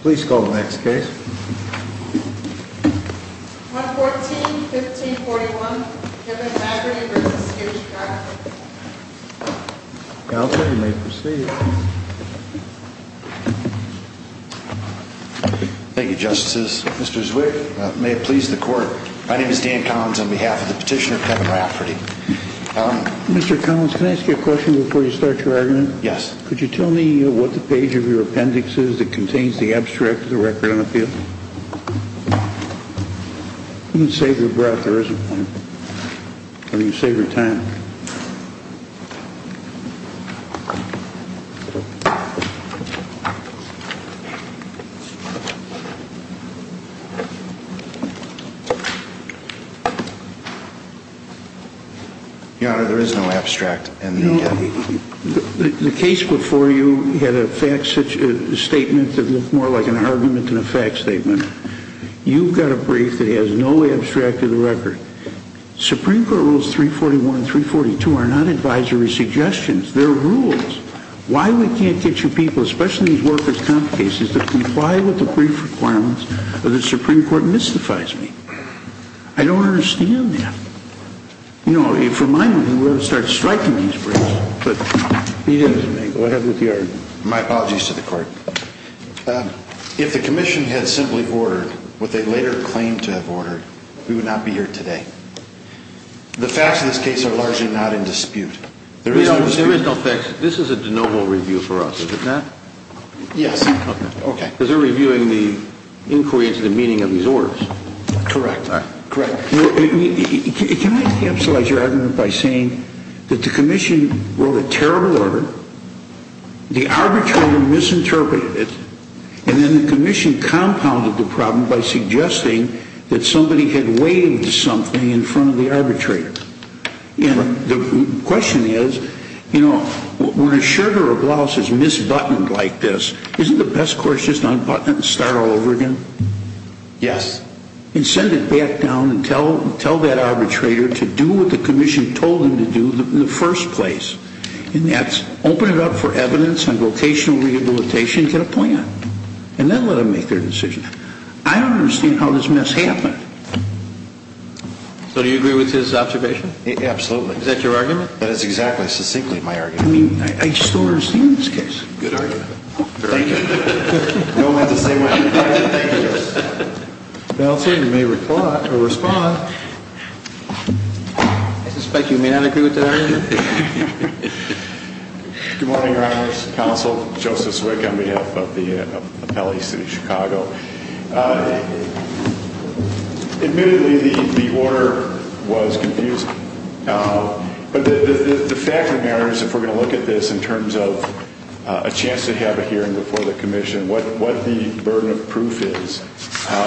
Please call the next case. 114-1541, Kevin Rafferty v. H. Rafferty Counsel, you may proceed. Thank you, Justices. Mr. Zwick, may it please the Court, my name is Dan Collins on behalf of the petitioner, Kevin Rafferty. Mr. Collins, can I ask you a question before you start your argument? Yes. Could you tell me what the page of your appendix is that contains the abstract of the record on the field? You can save your breath, there isn't one. Or you can save your time. Your Honor, there is no abstract in the appendix. The case before you had a statement that looked more like an argument than a fact statement. You've got a brief that has no abstract of the record. Supreme Court Rules 341 and 342 are not advisory suggestions, they're rules. Why we can't get you people, especially these workers' comp cases, to comply with the brief requirements that the Supreme Court mystifies me. I don't understand that. You know, for my reason, we ought to start striking these briefs. My apologies to the Court. If the Commission had simply ordered what they later claimed to have ordered, we would not be here today. The facts of this case are largely not in dispute. There is no facts. This is a de novo review for us, is it not? Yes. Because they're reviewing the inquiry into the meaning of these orders. Correct. Can I capsulize your argument by saying that the Commission wrote a terrible order, the arbitrator misinterpreted it, and then the Commission compounded the problem by suggesting that somebody had waived something in front of the arbitrator. The question is, you know, when a shirt or a blouse is misbuttoned like this, isn't the best course just to unbutton it and start all over again? Yes. And send it back down and tell that arbitrator to do what the Commission told him to do in the first place. And that's open it up for evidence on vocational rehabilitation and get a plan. And then let them make their decision. I don't understand how this mess happened. So do you agree with his observation? Absolutely. Is that your argument? That is exactly, succinctly, my argument. I mean, I still don't understand this case. Good argument. Thank you. No one has the same argument? Thank you. Counsel, you may respond. I suspect you may not agree with that argument. Good morning, Your Honors. Counsel Joseph Zwick on behalf of the Appellee, City of Chicago. Admittedly, the order was confusing. But the fact of the matter is, if we're going to look at this in terms of a chance to have a hearing before the Commission, what the burden of proof is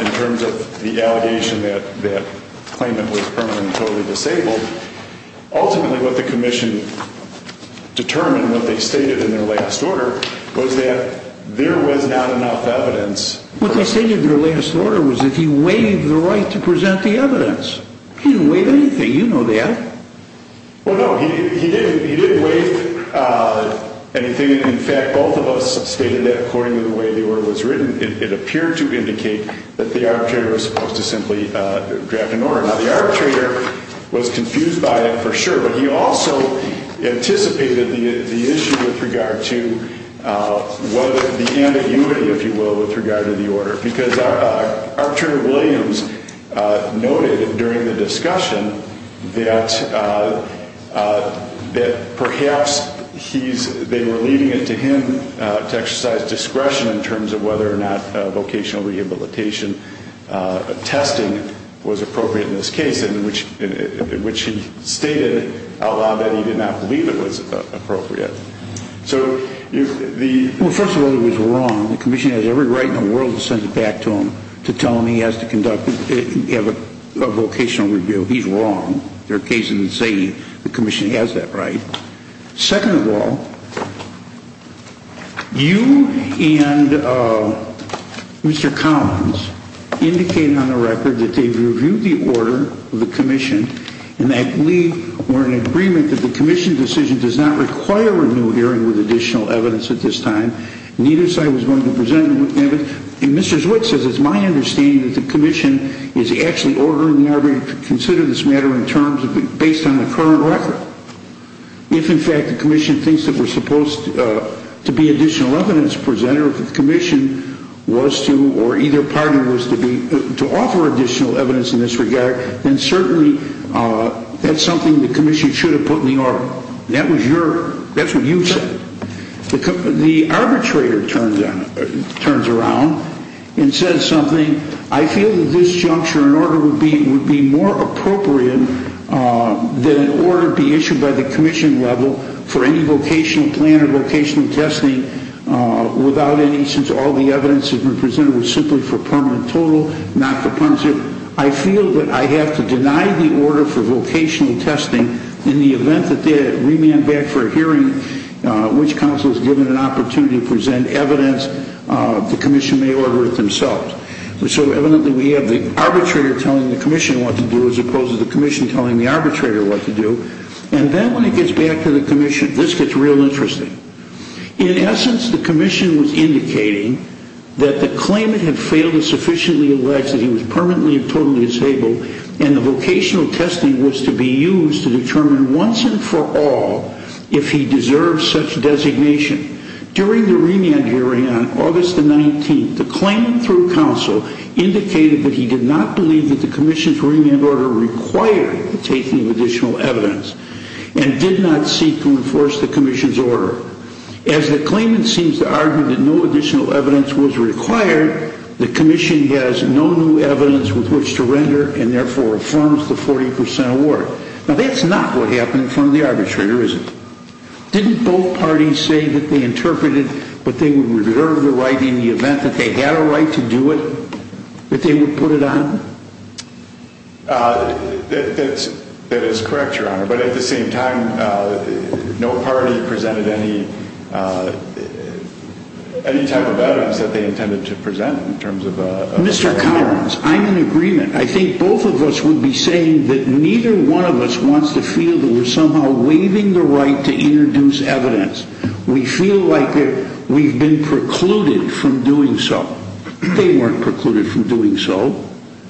in terms of the allegation that that claimant was permanently totally disabled, ultimately what the Commission determined, what they stated in their last order, was that there was not enough evidence. What they stated in their last order was that he waived the right to present the evidence. He didn't waive anything. You know that. Well, no, he didn't waive anything. In fact, both of us stated that, according to the way the order was written. It appeared to indicate that the arbitrator was supposed to simply draft an order. Now, the arbitrator was confused by that, for sure. But he also anticipated the issue with regard to the ambiguity, if you will, with regard to the order. Because Archer Williams noted during the discussion that perhaps they were leaving it to him to exercise discretion in terms of whether or not vocational rehabilitation testing was appropriate in this case, in which he stated out loud that he did not believe it was appropriate. Well, first of all, he was wrong. The Commission has every right in the world to send it back to him to tell him he has to conduct a vocational review. He's wrong. There are cases in the city the Commission has that right. Second of all, you and Mr. Collins indicated on the record that they've reviewed the order of the Commission and that we were in agreement that the Commission decision does not require a new hearing with additional evidence at this time. Neither side was willing to present evidence. And Mr. Zwick says it's my understanding that the Commission is actually ordering the arbitrator to consider this matter in terms of based on the current record. If, in fact, the Commission thinks that we're supposed to be additional evidence presenter, if the Commission was to, or either party was to be, to offer additional evidence in this regard, then certainly that's something the Commission should have put in the order. That was your, that's what you said. The arbitrator turns around and says something. I feel that this juncture in order would be more appropriate than an order be issued by the Commission level for any vocational plan or vocational testing without any, since all the evidence has been presented was simply for permanent total, not compulsive. I feel that I have to deny the order for vocational testing in the event that they remand back for a hearing which counsel is given an opportunity to present evidence, the Commission may order it themselves. So evidently we have the arbitrator telling the Commission what to do as opposed to the Commission telling the arbitrator what to do. And then when it gets back to the Commission, this gets real interesting. In essence, the Commission was indicating that the claimant had failed to sufficiently elect that he was permanently and totally disabled, and the vocational testing was to be used to determine once and for all if he deserves such designation. During the remand hearing on August the 19th, the claimant through counsel indicated that he did not believe that the Commission's remand order required the taking of additional evidence and did not seek to enforce the Commission's order. As the claimant seems to argue that no additional evidence was required, the Commission has no new evidence with which to render and therefore reforms the 40% award. Now that's not what happened in front of the arbitrator, is it? Didn't both parties say that they interpreted that they would reserve the right in the event that they had a right to do it, that they would put it on? That is correct, Your Honor. But at the same time, no party presented any type of evidence that they intended to present in terms of a... Mr. Collins, I'm in agreement. I think both of us would be saying that neither one of us wants to feel that we're somehow waiving the right to introduce evidence. We feel like we've been precluded from doing so. They weren't precluded from doing so.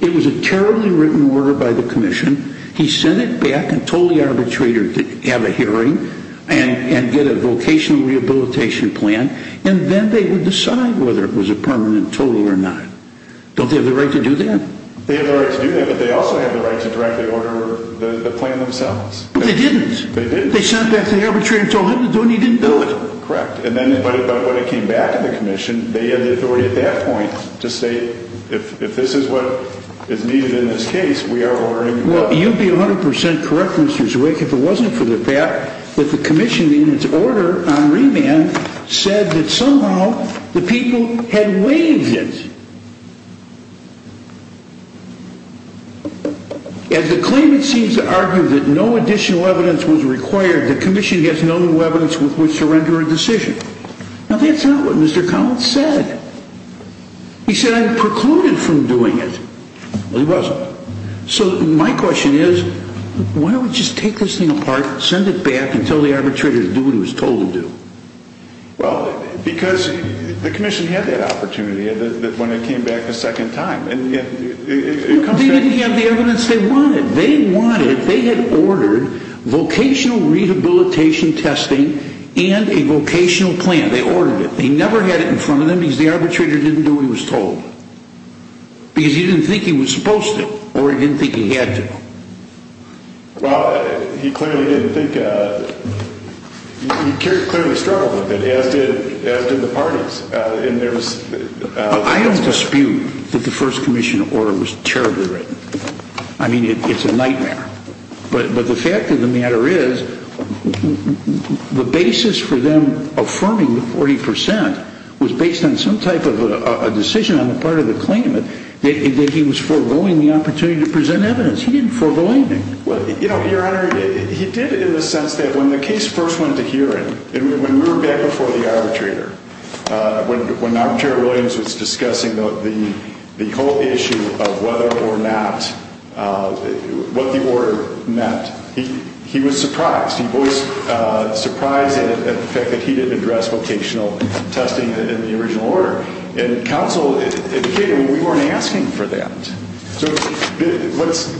It was a terribly written order by the Commission. He sent it back and told the arbitrator to have a hearing and get a vocational rehabilitation plan, and then they would decide whether it was a permanent total or not. Don't they have the right to do that? They have the right to do that, but they also have the right to directly order the plan themselves. But they didn't. They didn't. They sent it back to the arbitrator and told him to do it and he didn't do it. Correct. But when it came back to the Commission, they had the authority at that point to say, if this is what is needed in this case, we are ordering... Well, you'd be 100% correct, Mr. Zwick, if it wasn't for the fact that the Commission, in its order on remand, said that somehow the people had waived it. As the claimant seems to argue that no additional evidence was required, the Commission has no new evidence with which to render a decision. Now, that's not what Mr. Collins said. He said, I precluded from doing it. Well, he wasn't. So my question is, why don't we just take this thing apart, send it back, and tell the arbitrator to do what he was told to do? Well, because the Commission had that opportunity when it came back a second time. They didn't have the evidence they wanted. They wanted, they had ordered, vocational rehabilitation testing and a vocational plan. They ordered it. They never had it in front of them because the arbitrator didn't do what he was told. Because he didn't think he was supposed to, or he didn't think he had to. Well, he clearly didn't think... He clearly struggled with it, as did the parties. I have dispute that the first Commission order was terribly written. I mean, it's a nightmare. But the fact of the matter is, the basis for them affirming the 40 percent was based on some type of a decision on the part of the claimant that he was foregoing the opportunity to present evidence. He didn't forego anything. Well, you know, Your Honor, he did it in the sense that when the case first went to hearing, when we were back before the arbitrator, when Arbitrator Williams was discussing the whole issue of whether or not, what the order meant, he was surprised. He was surprised at the fact that he didn't address vocational testing in the original order. And counsel indicated we weren't asking for that. So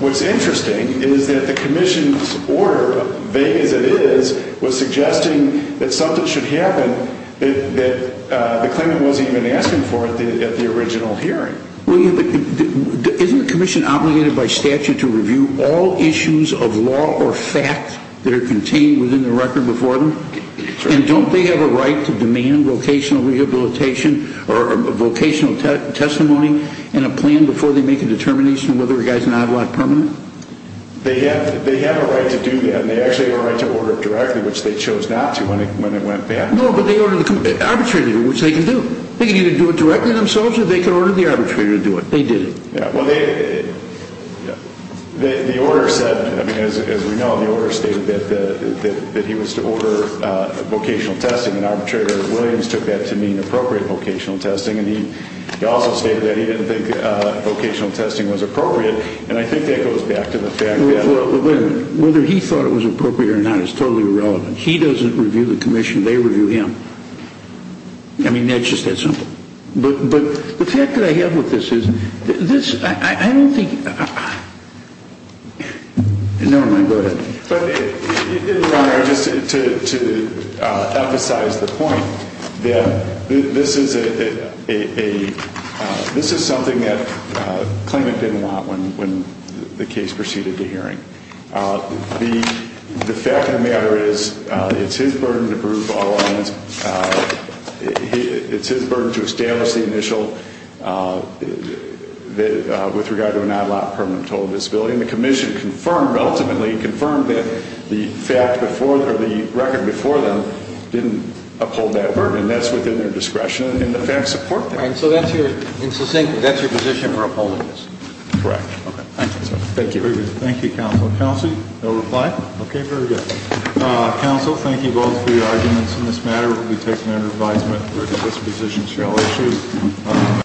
what's interesting is that the Commission's order, vague as it is, was suggesting that something should happen that the claimant wasn't even asking for at the original hearing. Well, isn't the Commission obligated by statute to review all issues of law or fact that are contained within the record before them? And don't they have a right to demand vocational rehabilitation or vocational testimony in a plan before they make a determination whether a guy's an ad lot permanent? They have a right to do that. And they actually have a right to order it directly, which they chose not to when it went back. No, but they ordered it arbitrarily, which they can do. They can either do it directly themselves or they can order the arbitrator to do it. They did it. Well, the order said, as we know, the order stated that he was to order vocational testing, and Arbitrator Williams took that to mean appropriate vocational testing. And he also stated that he didn't think vocational testing was appropriate. And I think that goes back to the fact that— Well, wait a minute. Whether he thought it was appropriate or not is totally irrelevant. He doesn't review the Commission. They review him. I mean, it's just that simple. But the fact that I have with this is, this—I don't think— Never mind. Go ahead. But, Your Honor, just to emphasize the point, that this is something that Klement didn't want when the case proceeded to hearing. The fact of the matter is, it's his burden to prove all evidence. It's his burden to establish the initial, with regard to an odd-lot permanent total disability. And the Commission confirmed, ultimately confirmed, that the record before them didn't uphold that burden. And that's within their discretion, and the facts support that. And so that's your position for upholding this? Correct. Thank you. Thank you, Counsel. Counsel, no reply? Okay, very good. Counsel, thank you both for your arguments on this matter. We take them under advisement. This position shall issue.